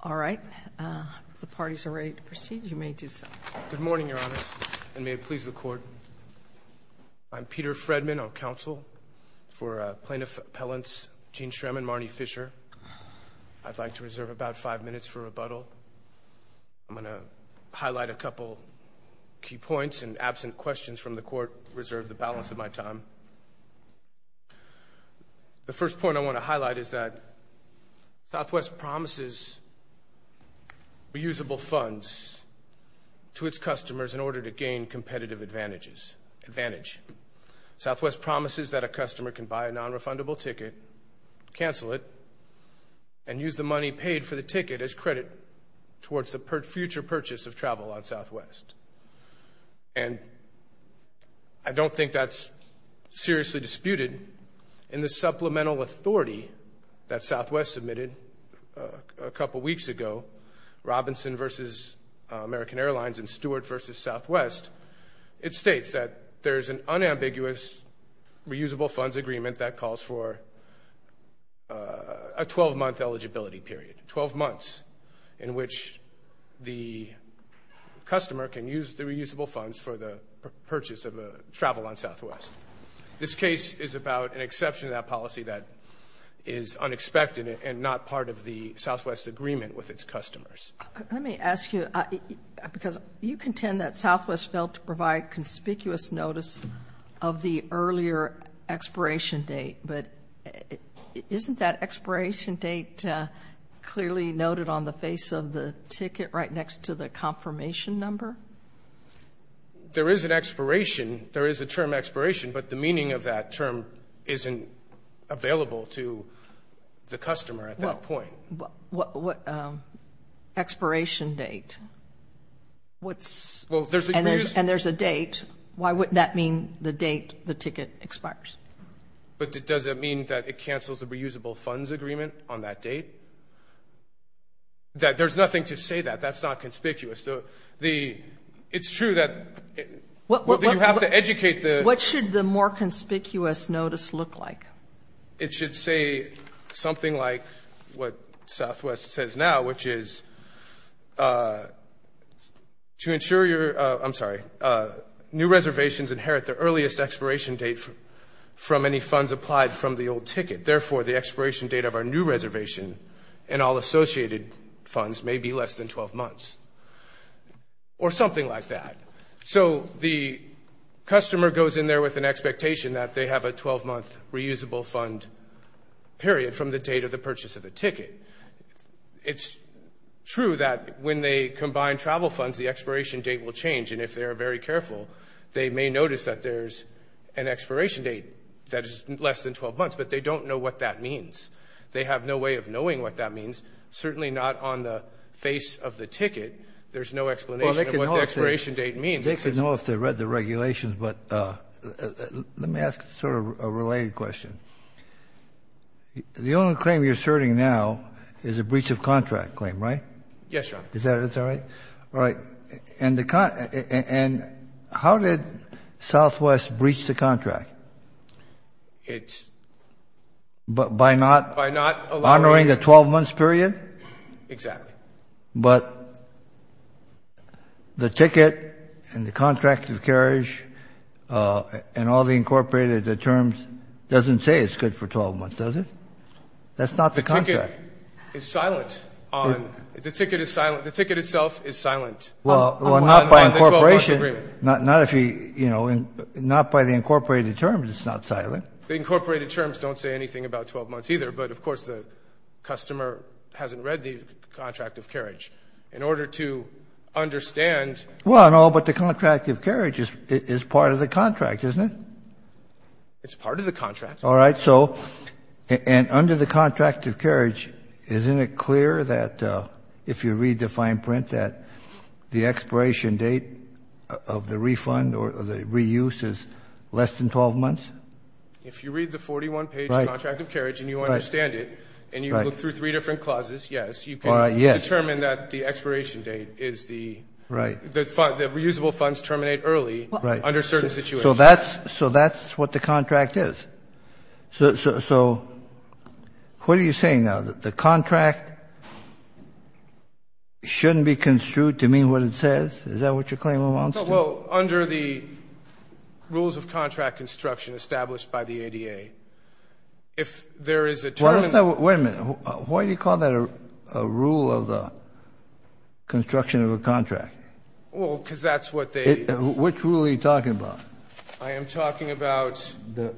All right. The parties are ready to proceed. You may do so. Good morning, Your Honor, and may it please the Court. I'm Peter Fredman, on counsel for Plaintiff Appellants Gene Shrem and Marnie Fisher. I'd like to reserve about five minutes for rebuttal. I'm going to highlight a couple key points, and absent questions from the Court, reserve the balance of my time. The first point I want to highlight is that Southwest promises reusable funds to its customers in order to gain competitive advantage. Southwest promises that a customer can buy a non-refundable ticket, cancel it, and use the money paid for the ticket as credit towards the future purchase of travel on Southwest. And I don't think that's seriously disputed in the supplemental authority that Southwest submitted a couple weeks ago, Robinson v. American Airlines and Stewart v. Southwest. It states that there is an unambiguous reusable funds agreement that calls for a 12-month eligibility period, 12 months in which the customer can use the reusable funds for the purchase of travel on Southwest. This case is about an exception to that policy that is unexpected and not part of the Southwest agreement with its customers. Let me ask you, because you contend that Southwest failed to provide conspicuous notice of the earlier expiration date, but isn't that expiration date clearly noted on the face of the ticket right next to the confirmation number? There is an expiration. There is a term expiration, but the meaning of that term isn't available to the customer at that point. What expiration date? And there's a date. Why would that mean the date the ticket expires? But does that mean that it cancels the reusable funds agreement on that date? There's nothing to say that. That's not conspicuous. It's true that you have to educate the- It should say something like what Southwest says now, which is, to ensure your- I'm sorry. New reservations inherit the earliest expiration date from any funds applied from the old ticket. Therefore, the expiration date of our new reservation and all associated funds may be less than 12 months or something like that. So the customer goes in there with an expectation that they have a 12-month reusable fund period from the date of the purchase of the ticket. It's true that when they combine travel funds, the expiration date will change. And if they are very careful, they may notice that there's an expiration date that is less than 12 months. But they don't know what that means. They have no way of knowing what that means, certainly not on the face of the ticket. There's no explanation of what the expiration date means. They could know if they read the regulations. But let me ask sort of a related question. The only claim you're asserting now is a breach of contract claim, right? Yes, Your Honor. Is that right? All right. And how did Southwest breach the contract? But by not honoring a 12-month period? Exactly. But the ticket and the contract of carriage and all the incorporated terms doesn't say it's good for 12 months, does it? That's not the contract. The ticket is silent. The ticket itself is silent on the 12-month agreement. Well, not by incorporation. Not by the incorporated terms, it's not silent. The incorporated terms don't say anything about 12 months either. But of course, the customer hasn't read the contract of carriage. In order to understand. Well, no, but the contract of carriage is part of the contract, isn't it? It's part of the contract. All right. So and under the contract of carriage, isn't it clear that if you read the fine print that the expiration date of the refund or the reuse is less than 12 months? If you read the 41-page contract of carriage and you understand it, and you look through three different clauses, yes, you can determine that the expiration date is the, the reusable funds terminate early under certain situations. So that's what the contract is. So what are you saying now? The contract shouldn't be construed to mean what it says? Is that what you're claiming belongs to? Well, under the rules of contract construction established by the ADA, if there is a term. Wait a minute. Why do you call that a rule of the construction of a contract? Well, because that's what they. Which rule are you talking about? I am talking about,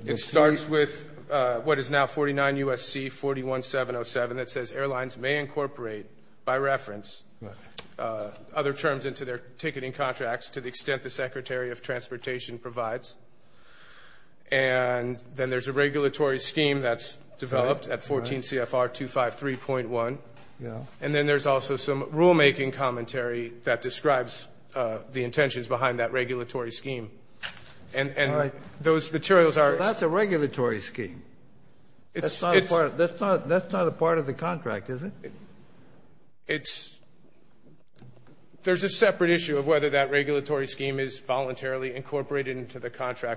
it starts with what is now 49 USC 41-707 that says airlines may incorporate, by reference, other terms into their ticketing contracts to the extent the Secretary of Transportation provides. And then there's a regulatory scheme that's developed at 14 CFR 253.1. And then there's also some rulemaking commentary that describes the intentions behind that regulatory scheme. And those materials are. That's a regulatory scheme. That's not a part of the contract, is it? It's, there's a separate issue of whether that regulatory contract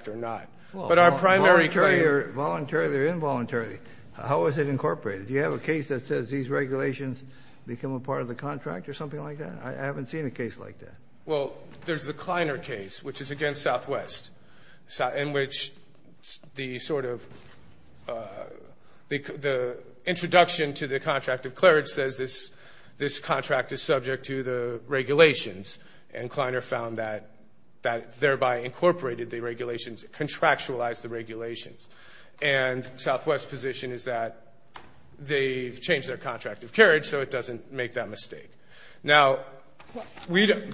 or not. But our primary claim. Voluntarily or involuntarily, how is it incorporated? Do you have a case that says these regulations become a part of the contract or something like that? I haven't seen a case like that. Well, there's the Kleiner case, which is against Southwest. In which the sort of, the introduction to the contract of clergy says this contract is subject to the regulations. And Kleiner found that that thereby incorporated the regulations, contractualized the regulations. And Southwest's position is that they've changed their contract of carriage, so it doesn't make that mistake. Now,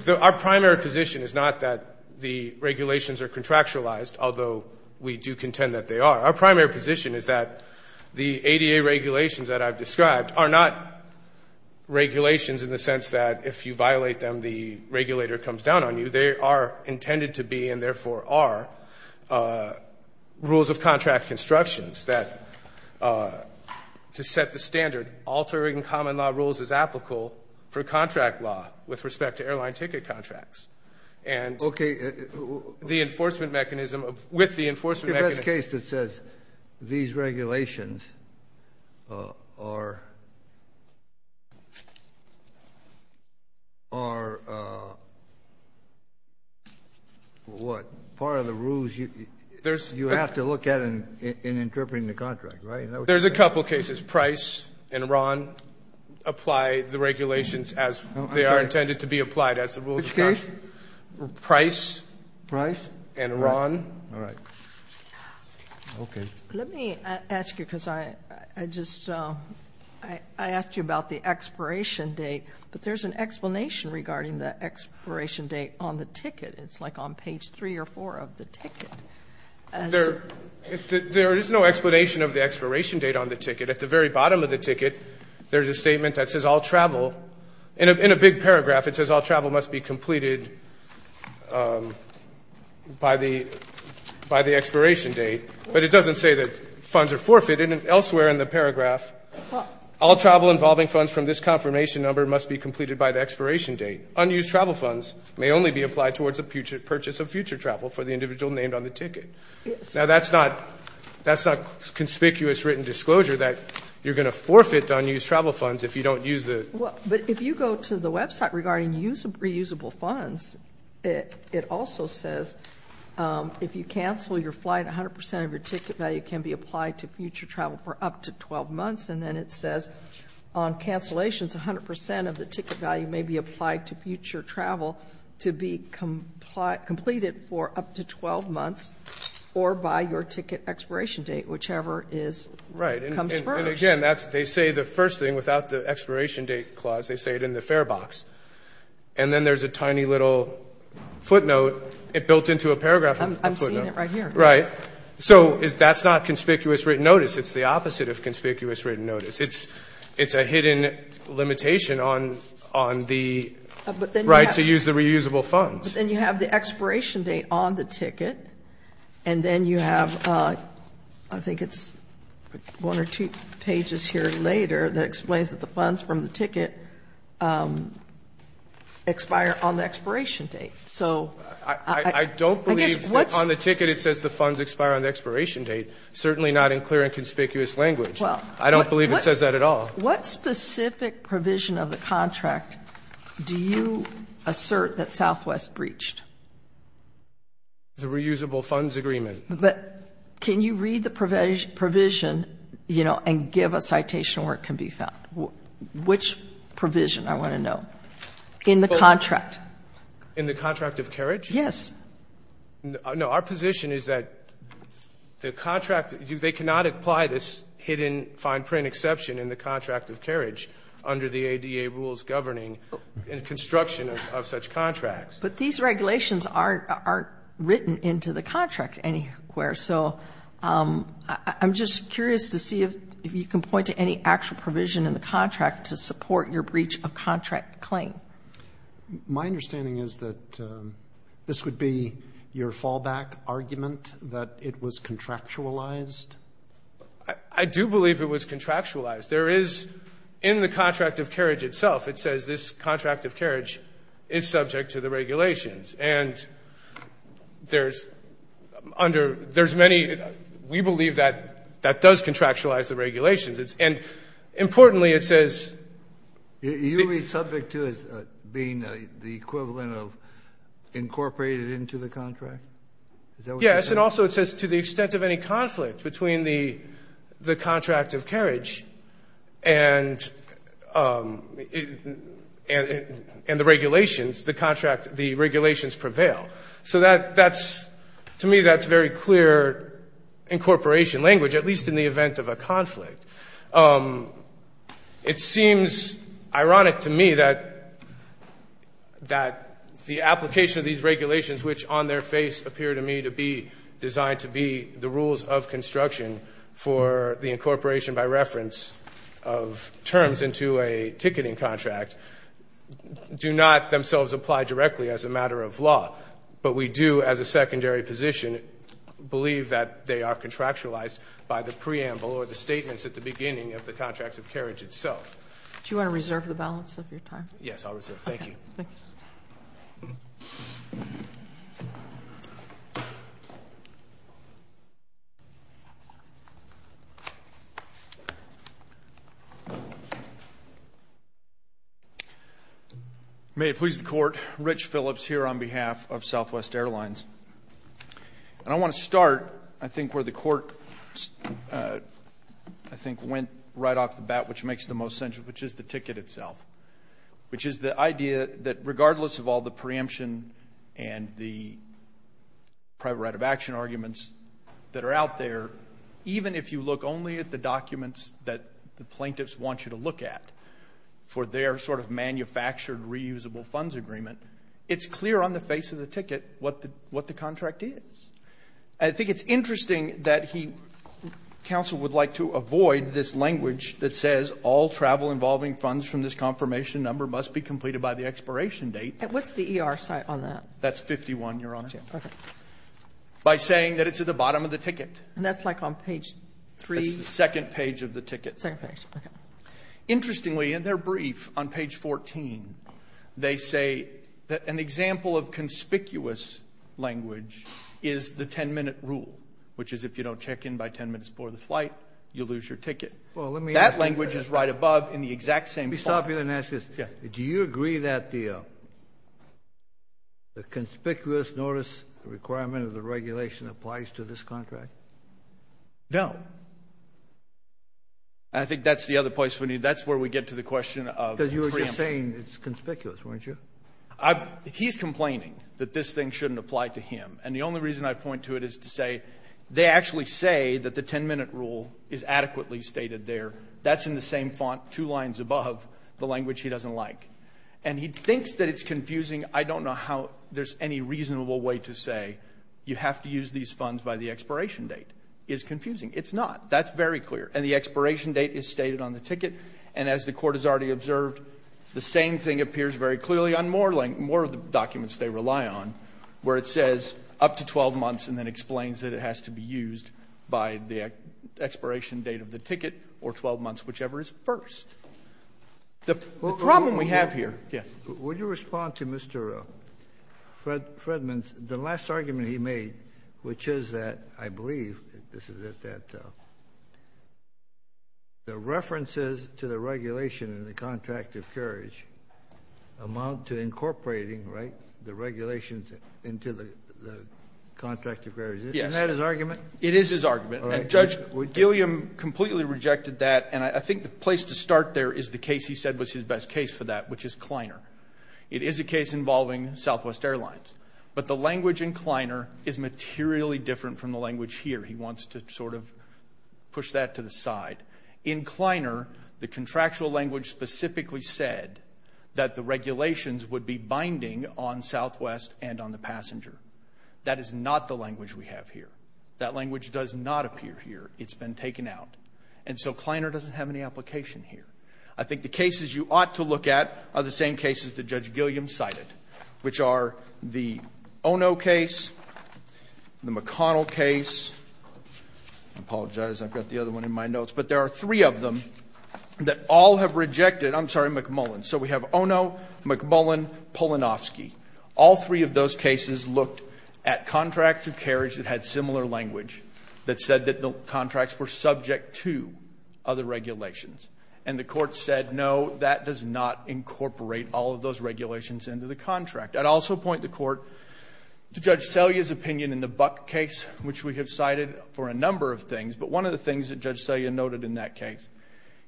our primary position is not that the regulations are contractualized, although we do contend that they are. Our primary position is that the ADA regulations that I've described are not regulations in the sense that if you violate them, the regulator comes down on you. They are intended to be and therefore are rules of contract constructions that to set the standard, altering common law rules is applicable for contract law with respect to airline ticket contracts. And the enforcement mechanism, with the enforcement mechanism. There's a case that says these regulations are, are what? Part of the rules you have to look at in interpreting the contract, right? There's a couple cases. Price and Ron apply the regulations as they are intended to be applied as the rules of contract. Which case? Price. Price. And Ron. All right. OK. Let me ask you, because I just, I asked you about the expiration date. But there's an explanation regarding the expiration date on the ticket. It's like on page three or four of the ticket. There is no explanation of the expiration date on the ticket. At the very bottom of the ticket, there's a statement that says all travel. In a big paragraph, it says all travel must be completed by the expiration date. But it doesn't say that funds are forfeited. Elsewhere in the paragraph, all travel involving funds from this confirmation number must be completed by the expiration date. Unused travel funds may only be applied towards the purchase of future travel for the individual named on the ticket. Yes. Now that's not, that's not conspicuous written disclosure that you're going to forfeit unused travel funds if you don't use the. But if you go to the website regarding reusable funds, it also says if you cancel your flight, 100 percent of your ticket value can be applied to future travel for up to 12 months. And then it says on cancellations, 100 percent of the ticket value may be applied to future travel to be completed for up to 12 months or by your ticket expiration date, whichever is comes first. Right. And again, that's, they say the first thing, without the expiration date clause, they say it in the fare box. And then there's a tiny little footnote. It built into a paragraph. I'm seeing it right here. Right. So that's not conspicuous written notice. It's the opposite of conspicuous written notice. It's a hidden limitation on the right to use the reusable funds. But then you have the expiration date on the ticket. And then you have, I think it's one or two pages here later that explains that the funds from the ticket expire on the expiration date. So I don't believe what's on the ticket. It says the funds expire on the expiration date. Certainly not in clear and conspicuous language. Well, I don't believe it says that at all. What specific provision of the contract do you assert that Southwest breached? The reusable funds agreement. But can you read the provision, you know, and give a citation where it can be found? Which provision? I want to know. In the contract. In the contract of carriage? Yes. No, our position is that the contract, they cannot apply this hidden fine print exception in the contract of carriage under the ADA rules governing construction of such contracts. But these regulations aren't written into the contract anywhere. So I'm just curious to see if you can point to any actual provision in the contract to support your breach of contract claim. My understanding is that this would be your fallback argument that it was contractualized? I do believe it was contractualized. There is, in the contract of carriage itself, it says this contract of carriage is subject to the regulations. And there's many, we believe that that does contractualize the regulations. And importantly, it says. You read subject to as being the equivalent of incorporated into the contract? Is that what you said? Yes, and also it says to the extent of any conflict between the contract of carriage and the regulations, the contract, the regulations prevail. So to me, that's very clear incorporation language, at least in the event of a conflict. It seems ironic to me that the application of these regulations, which on their face appear to me to be designed to be the rules of construction for the incorporation by reference of terms into a ticketing contract, do not themselves apply directly as a matter of law. But we do, as a secondary position, believe that they are contractualized by the preamble or the statements at the beginning of the contracts of carriage itself. Do you want to reserve the balance of your time? Yes, I'll reserve. Thank you. Thank you. Thank you. May it please the court, Rich Phillips here on behalf of Southwest Airlines. And I want to start, I think, where the court, I think, went right off the bat, which makes the most sense, which is the ticket itself, which is the idea that regardless of all the preemption and the private right of action arguments that are out there, even if you look only at the documents that the plaintiffs want you to look at for their sort of manufactured reusable funds agreement, it's clear on the face of the ticket what the contract is. I think it's interesting that he, counsel, would like to avoid this language that says all travel involving funds from this confirmation number must be completed by the expiration date. What's the ER site on that? That's 51, Your Honor. By saying that it's at the bottom of the ticket. And that's like on page three? That's the second page of the ticket. Interestingly, in their brief on page 14, they say that an example of conspicuous language is the 10-minute rule, which is if you don't check in by 10 minutes before the flight, you lose your ticket. That language is right above in the exact same spot. Let me stop you and ask this. Yes. Do you agree that the conspicuous notice requirement of the regulation applies to this contract? No. And I think that's the other place we need. That's where we get to the question of preemption. Because you were just saying it's conspicuous, weren't you? He's complaining that this thing shouldn't apply to him. And the only reason I point to it is to say, they actually say that the 10-minute rule is adequately stated there. That's in the same font, two lines above, the language he doesn't like. And he thinks that it's confusing. I don't know how there's any reasonable way to say, you have to use these funds by the expiration date. It's confusing. It's not. That's very clear. And the expiration date is stated on the ticket. And as the Court has already observed, the same thing appears very clearly on more of the documents they rely on, where it says up to 12 months and then explains that it has to be used by the expiration date of the ticket or 12 months, whichever is first. The problem we have here — yes. Would you respond to Mr. Fredman's — the last argument he made, which is that I believe this is it, that the references to the regulation in the Contract of Courage amount to incorporating, right, the regulations into the Contract of Courage. Yes. Isn't that his argument? It is his argument. And Judge Gilliam completely rejected that. And I think the place to start there is the case he said was his best case for that, which is Kleiner. It is a case involving Southwest Airlines. But the language in Kleiner is materially different from the language here. He wants to sort of push that to the side. In Kleiner, the contractual language specifically said that the regulations would be binding on Southwest and on the passenger. That is not the language we have here. That language does not appear here. It's been taken out. And so Kleiner doesn't have any application here. I think the cases you ought to look at are the same cases that Judge Gilliam cited, which are the Ono case, the McConnell case. I apologize. I've got the other one in my notes. But there are three of them that all have rejected. I'm sorry, McMullen. So we have Ono, McMullen, Polonofsky. All three of those cases looked at contracts of carriage that had similar language that said that the contracts were subject to other regulations. And the Court said, no, that does not incorporate all of those regulations into the contract. I'd also point the Court to Judge Selya's opinion in the Buck case, which we have cited for a number of things. But one of the things that Judge Selya noted in that case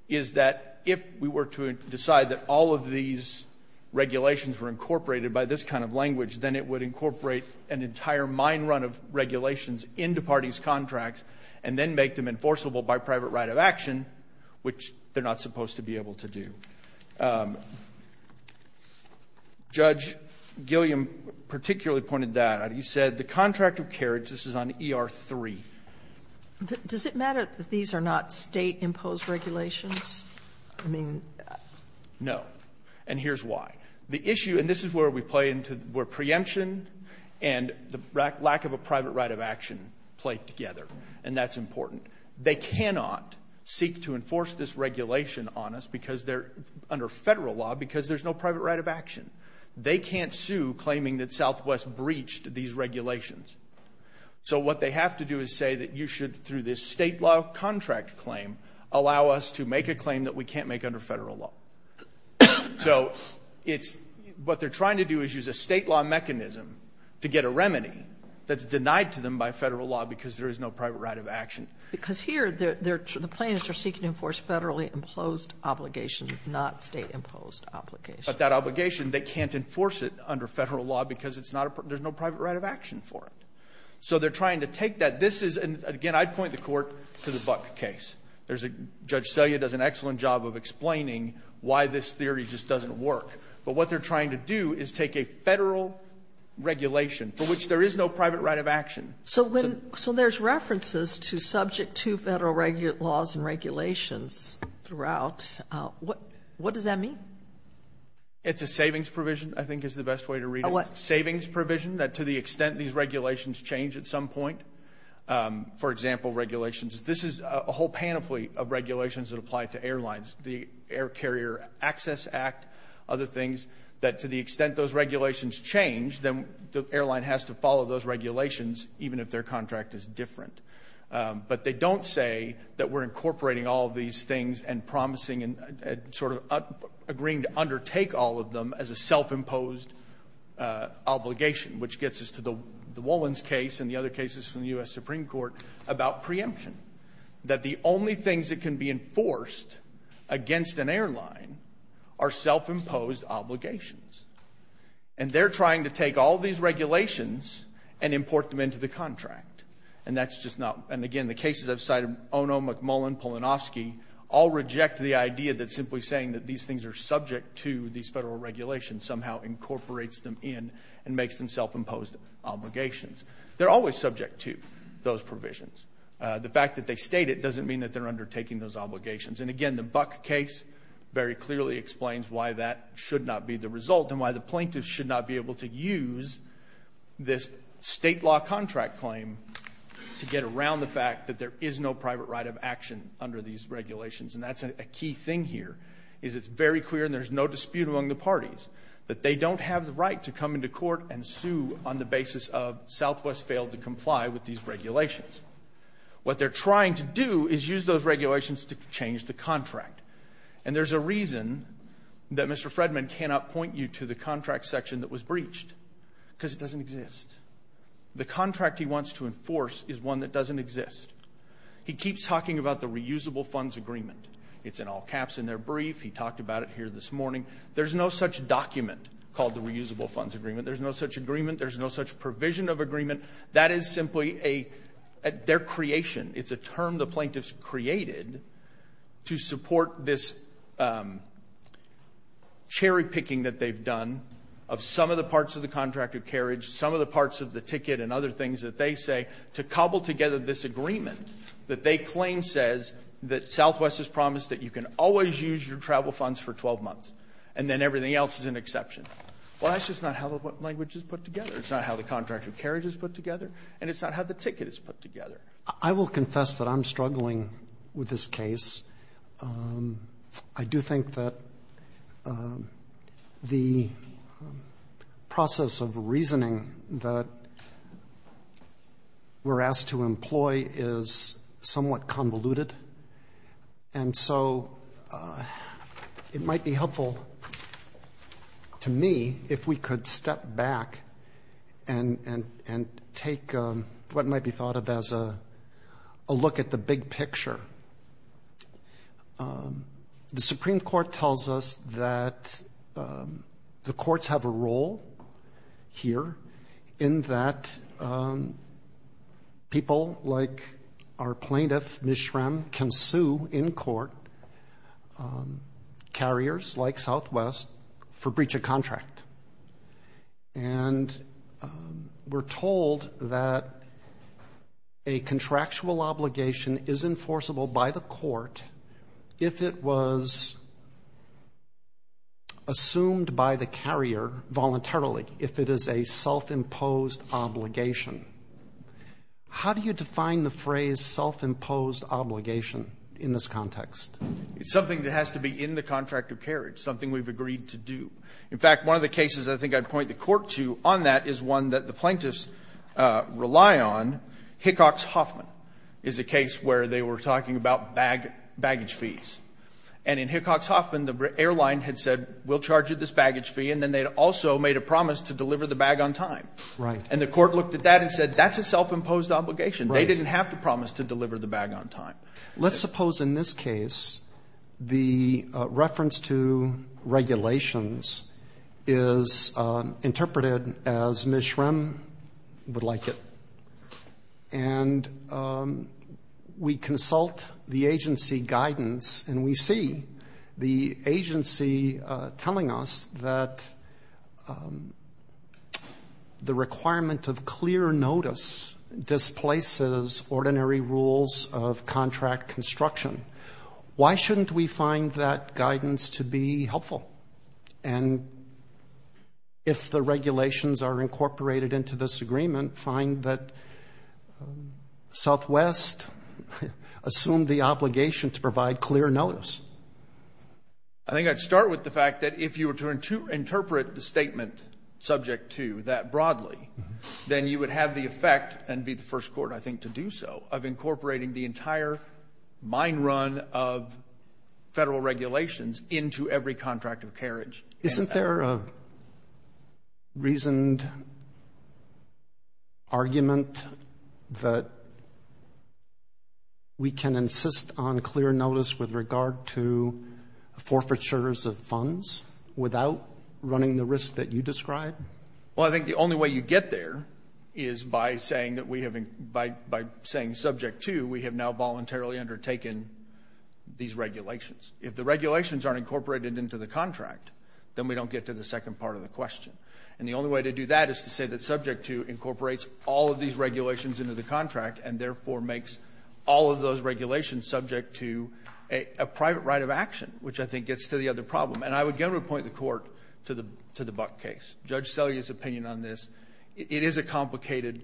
is that if we were to decide that all of these regulations were incorporated by this kind of language, then it would incorporate an entire mine run of regulations into parties' contracts and then make them enforceable by private right of action, which they're not supposed to be able to do. Judge Gilliam particularly pointed that out. He said the contract of carriage, this is on ER 3. Does it matter that these are not state-imposed regulations? I mean, no. And here's why. The issue, and this is where we play into, where preemption and the lack of a private right of action play together. And that's important. They cannot seek to enforce this regulation on us because they're under federal law because there's no private right of action. They can't sue claiming that Southwest breached these regulations. So what they have to do is say that you should, through this state law contract claim, allow us to make a claim that we can't make under federal law. So it's, what they're trying to do is use a state law mechanism to get a remedy that's denied to them by federal law because there is no private right of action. Because here, the plaintiffs are seeking to enforce federally imposed obligations, not state-imposed obligations. But that obligation, they can't enforce it under federal law because it's not, there's no private right of action for it. So they're trying to take that. This is, and again, I'd point the Court to the Buck case. Judge Selya does an excellent job of explaining why this theory just doesn't work. But what they're trying to do is take a federal regulation for which there is no private right of action. So when, so there's references to subject to federal laws and regulations throughout, what does that mean? It's a savings provision, I think is the best way to read it. A what? Savings provision that to the extent these regulations change at some point. For example, regulations, this is a whole panoply of regulations that apply to airlines. The Air Carrier Access Act, other things, that to the extent those regulations change, then the airline has to follow those regulations even if their contract is different. But they don't say that we're incorporating all of these things and promising and sort of agreeing to undertake all of them as a self-imposed obligation. Which gets us to the Wolins case and the other cases from the US Supreme Court about preemption. That the only things that can be enforced against an airline are self-imposed obligations. And they're trying to take all these regulations and import them into the contract. And that's just not, and again, the cases I've cited, Ono, McMullen, Polonofsky, all reject the idea that simply saying that these things are subject to these federal regulations somehow incorporates them in and makes them self-imposed obligations. They're always subject to those provisions. The fact that they state it doesn't mean that they're undertaking those obligations. And again, the Buck case very clearly explains why that should not be the result and why the plaintiff should not be able to use this state law contract claim to get around the fact that there is no private right of action under these regulations. And that's a key thing here, is it's very clear and there's no dispute among the parties that they don't have the right to come into court and sue on the basis of Southwest failed to comply with these regulations. What they're trying to do is use those regulations to change the contract. And there's a reason that Mr. Fredman cannot point you to the contract section that was breached, because it doesn't exist. The contract he wants to enforce is one that doesn't exist. He keeps talking about the reusable funds agreement. It's in all caps in their brief. He talked about it here this morning. There's no such document called the reusable funds agreement. There's no such agreement. There's no such provision of agreement. That is simply their creation. It's a term the plaintiffs created to support this cherry picking that they've done of some of the parts of the contract of carriage, some of the parts of the ticket and other things that they say to cobble together this agreement that they claim says that Southwest has promised that you can always use your travel funds for 12 months, and then everything else is an exception. Well, that's just not how the language is put together. It's not how the contract of carriage is put together, and it's not how the ticket is put together. I will confess that I'm struggling with this case. I do think that the process of reasoning that we're asked to employ is somewhat convoluted. And so it might be helpful to me if we could step back and take what might be thought of as a look at the big picture. The Supreme Court tells us that the courts have a role here in that people like our plaintiff, Ms. Schramm, can sue in court carriers like Southwest for breach of contract. And we're told that a contractual obligation is enforceable by the court if it was assumed by the carrier voluntarily, if it is a self-imposed obligation. How do you define the phrase self-imposed obligation in this context? It's something that has to be in the contract of carriage, something we've agreed to do. In fact, one of the cases I think I'd point the court to on that is one that the plaintiffs rely on. Hickox-Hoffman is a case where they were talking about baggage fees. And in Hickox-Hoffman, the airline had said, we'll charge you this baggage fee. And then they'd also made a promise to deliver the bag on time. And the court looked at that and said, that's a self-imposed obligation. They didn't have to promise to deliver the bag on time. Let's suppose in this case, the reference to regulations is interpreted as Ms. Schrem would like it. And we consult the agency guidance and we see the agency telling us that the requirement of clear notice displaces ordinary rules of contract construction. Why shouldn't we find that guidance to be helpful? And if the regulations are incorporated into this agreement, find that Southwest assumed the obligation to provide clear notice. I think I'd start with the fact that if you were to interpret the statement subject to that broadly, then you would have the effect, and be the first court, I think, to do so, of incorporating the entire mine run of federal regulations into every contract of carriage. Isn't there a reasoned argument that we can insist on clear notice with regard to forfeitures of funds without running the risk that you described? Well, I think the only way you get there is by saying subject to, we have now voluntarily undertaken these regulations. If the regulations aren't incorporated into the contract, then we don't get to the second part of the question. And the only way to do that is to say that subject to incorporates all of these regulations into the contract and therefore makes all of those regulations subject to a private right of action, which I think gets to the other problem. And I would generally point the court to the Buck case. Judge Selly's opinion on this, it is a complicated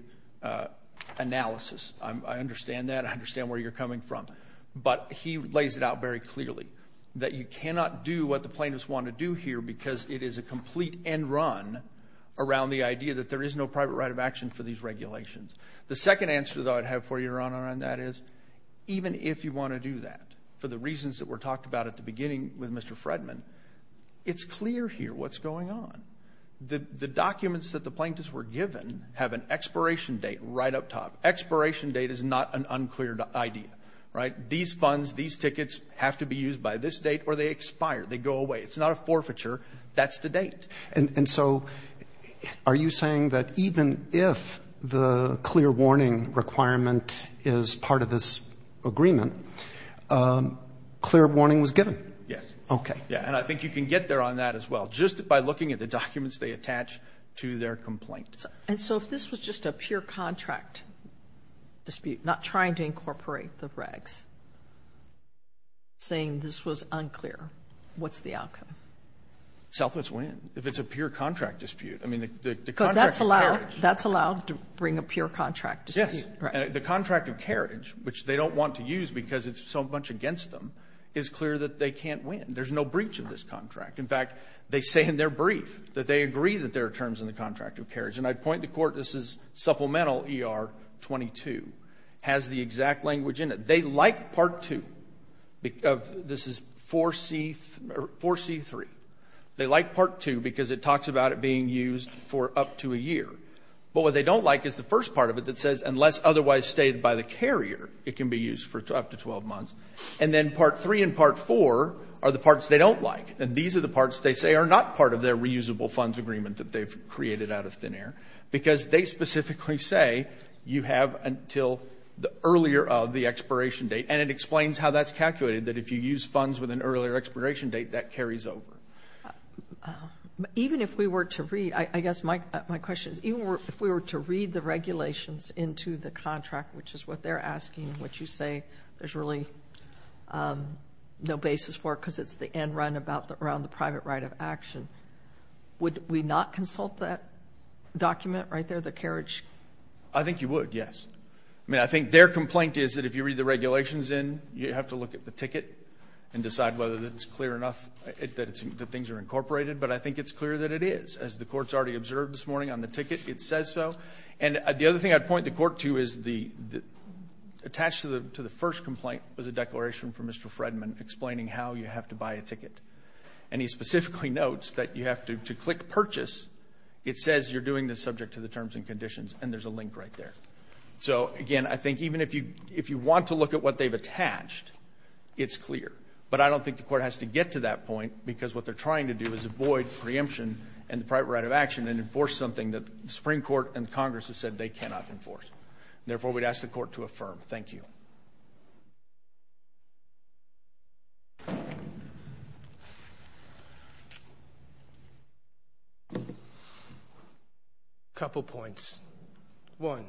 analysis. I understand that. I understand where you're coming from. But he lays it out very clearly, that you cannot do what the plaintiffs want to do here because it is a complete end run around the idea that there is no private right of action for these regulations. The second answer, though, I'd have for you, Your Honor, on that is, even if you want to do that, for the reasons that were talked about at the beginning with Mr. Fredman, it's clear here what's going on. The documents that the plaintiffs were given have an expiration date right up top. Expiration date is not an unclear idea, right? These funds, these tickets have to be used by this date or they expire. They go away. It's not a forfeiture. That's the date. And so are you saying that even if the clear warning requirement is part of this agreement, clear warning was given? Yes. Okay. Yeah. And I think you can get there on that as well, just by looking at the documents they attach to their complaint. And so if this was just a pure contract dispute, not trying to incorporate the regs, saying this was unclear, what's the outcome? Selfless win. If it's a pure contract dispute. I mean, the contract of carriage. That's allowed to bring a pure contract dispute. Yes. The contract of carriage, which they don't want to use because it's so much against them, is clear that they can't win. There's no breach of this contract. In fact, they say in their brief that they agree that there are terms in the contract of carriage. And I'd point the court, this is supplemental ER 22, has the exact language in it. They like part two. This is 4C3. They like part two because it talks about it being used for up to a year. But what they don't like is the first part of it that says, unless otherwise stated by the carrier, it can be used for up to 12 months. And then part three and part four are the parts they don't like. And these are the parts they say are not part of their reusable funds agreement that they've created out of thin air. Because they specifically say you have until the earlier of the expiration date. And it explains how that's calculated, that if you use funds with an earlier expiration date, that carries over. Even if we were to read, I guess my question is, even if we were to read the regulations into the contract, which is what they're asking, what you say there's really no basis for it because it's the end run around the private right of action. Would we not consult that document right there, the carriage? I think you would, yes. I think their complaint is that if you read the regulations in, you have to look at the ticket and decide whether it's clear enough that things are incorporated. But I think it's clear that it is. As the court's already observed this morning on the ticket, it says so. And the other thing I'd point the court to is attached to the first a ticket. And he specifically notes that you have to click purchase. It says you're doing this subject to the terms and conditions. And there's a link right there. So again, I think even if you want to look at what they've attached, it's clear. But I don't think the court has to get to that point because what they're trying to do is avoid preemption and the private right of action and enforce something that the Supreme Court and Congress have said they cannot enforce. Therefore, we'd ask the court to affirm. Thank you. A couple points. One,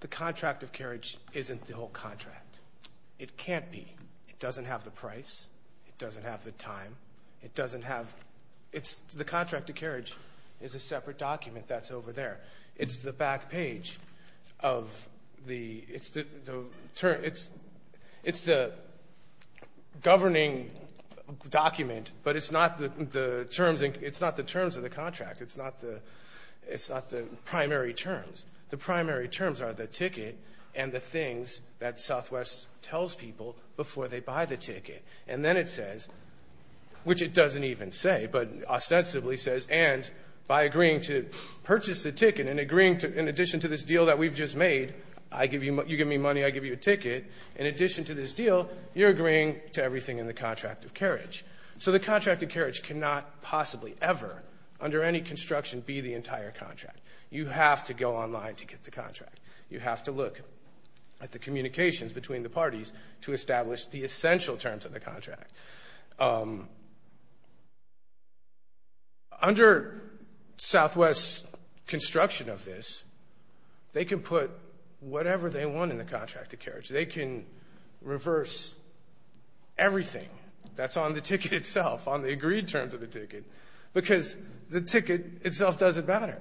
the contract of carriage isn't the whole contract. It can't be. It doesn't have the price. It doesn't have the time. It doesn't have, it's, the contract of carriage is a separate document that's over there. It's the back page of the, it's the, it's, it's the governing document But it's not the, the terms, it's not the terms of the contract. It's not the, it's not the primary terms. The primary terms are the ticket and the things that Southwest tells people before they buy the ticket. And then it says, which it doesn't even say, but ostensibly says and by agreeing to purchase the ticket and agreeing to, in addition to this deal that we've just made, I give you, you give me money, I give you a ticket. In addition to this deal, you're agreeing to everything in the contract of carriage. So the contract of carriage cannot possibly ever, under any construction, be the entire contract. You have to go online to get the contract. You have to look at the communications between the parties to establish the essential terms of the contract. Under Southwest's construction of this, they can put whatever they want in the contract of carriage. They can reverse everything that's on the ticket itself, on the agreed terms of the ticket, because the ticket itself doesn't matter.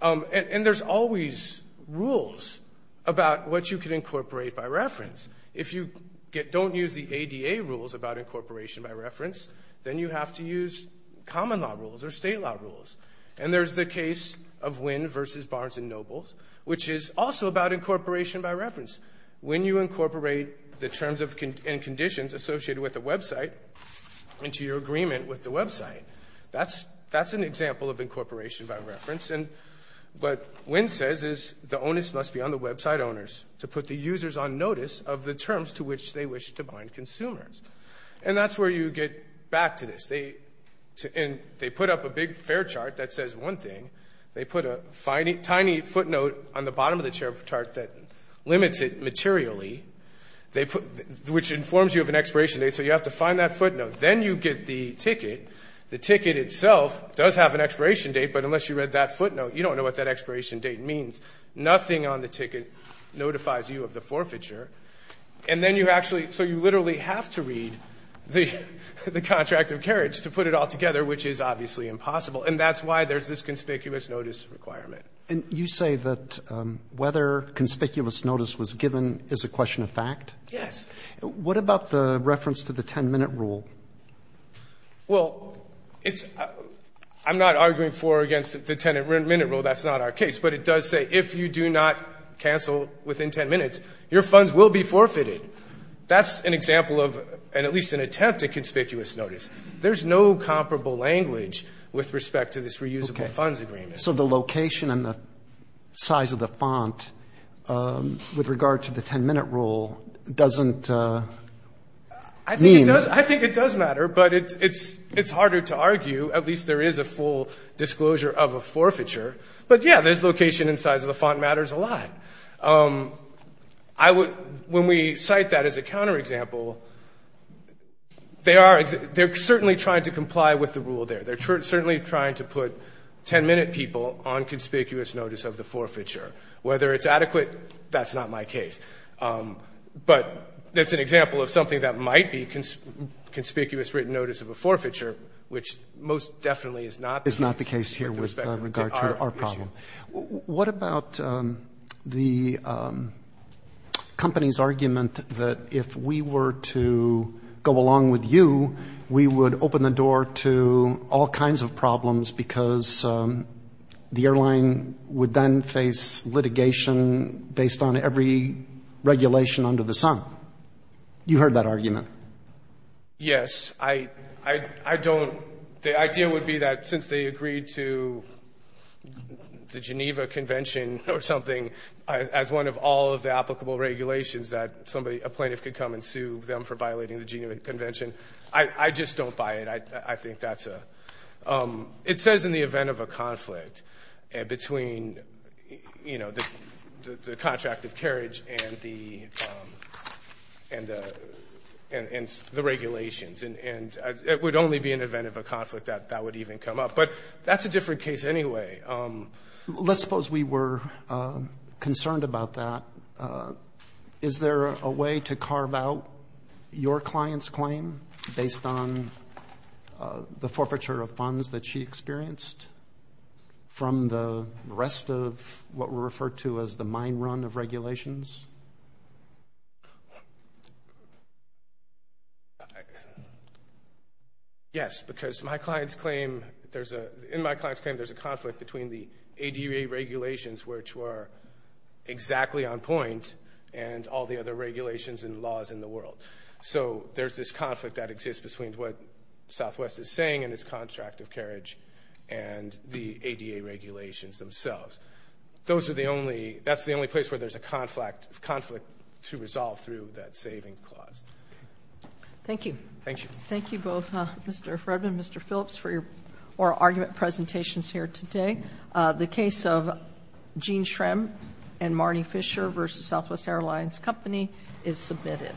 And, and there's always rules about what you can incorporate by reference. If you get, don't use the ADA rules about incorporation by reference, then you have to use common law rules or state law rules. And there's the case of Wynn versus Barnes and Nobles, which is also about incorporation by reference. When you incorporate the terms and conditions associated with a website into your agreement with the website, that's an example of incorporation by reference. And what Wynn says is the onus must be on the website owners to put the users on notice of the terms to which they wish to bind consumers. And that's where you get back to this. They put up a big fare chart that says one thing. They put a tiny footnote on the bottom of the chart that limits it materially. They put, which informs you of an expiration date, so you have to find that footnote. Then you get the ticket. The ticket itself does have an expiration date, but unless you read that footnote, you don't know what that expiration date means. Nothing on the ticket notifies you of the forfeiture. And then you actually, so you literally have to read the contract of carriage to put it all together, which is obviously impossible. And that's why there's this conspicuous notice requirement. And you say that whether conspicuous notice was given is a question of fact? Yes. What about the reference to the 10-minute rule? Well, it's, I'm not arguing for or against the 10-minute rule. That's not our case. But it does say if you do not cancel within 10 minutes, your funds will be forfeited. That's an example of, and at least an attempt at conspicuous notice. There's no comparable language with respect to this reusable funds agreement. So the location and the size of the font with regard to the 10-minute rule doesn't mean. I think it does matter, but it's harder to argue. At least there is a full disclosure of a forfeiture. But yeah, there's location and size of the font matters a lot. When we cite that as a counterexample, they are certainly trying to comply with the rule there. They're certainly trying to put 10-minute people on conspicuous notice of the forfeiture. Whether it's adequate, that's not my case. But that's an example of something that might be conspicuous written notice of a forfeiture, which most definitely is not the case with respect to our problem. What about the company's argument that if we were to go along with you, we would open the door to all kinds of problems because the airline would then face litigation based on every regulation under the sun? You heard that argument. Yes, I don't. The idea would be that since they agreed to the Geneva Convention or something as one of all of the applicable regulations that a plaintiff could come and sue them for violating the Geneva Convention. I just don't buy it. It says in the event of a conflict between the contract of carriage and the regulations. It would only be an event of a conflict that that would even come up. But that's a different case anyway. Let's suppose we were concerned about that. Is there a way to carve out your client's claim based on the forfeiture of funds that she experienced from the rest of what were referred to as the mine run of regulations? Yes, because in my client's claim, there's a conflict between the ADA regulations, which were exactly on point, and all the other regulations and laws in the world. So there's this conflict that exists between what Southwest is saying in its contract of carriage and the ADA regulations themselves. Those are the only, that's the only place where there's a conflict to resolve through that saving clause. Thank you. Thank you. Thank you both, Mr. Fredman, Mr. Phillips, for your oral argument presentations here today. The case of Gene Shrem and Marnie Fisher versus Southwest Airlines Company is submitted.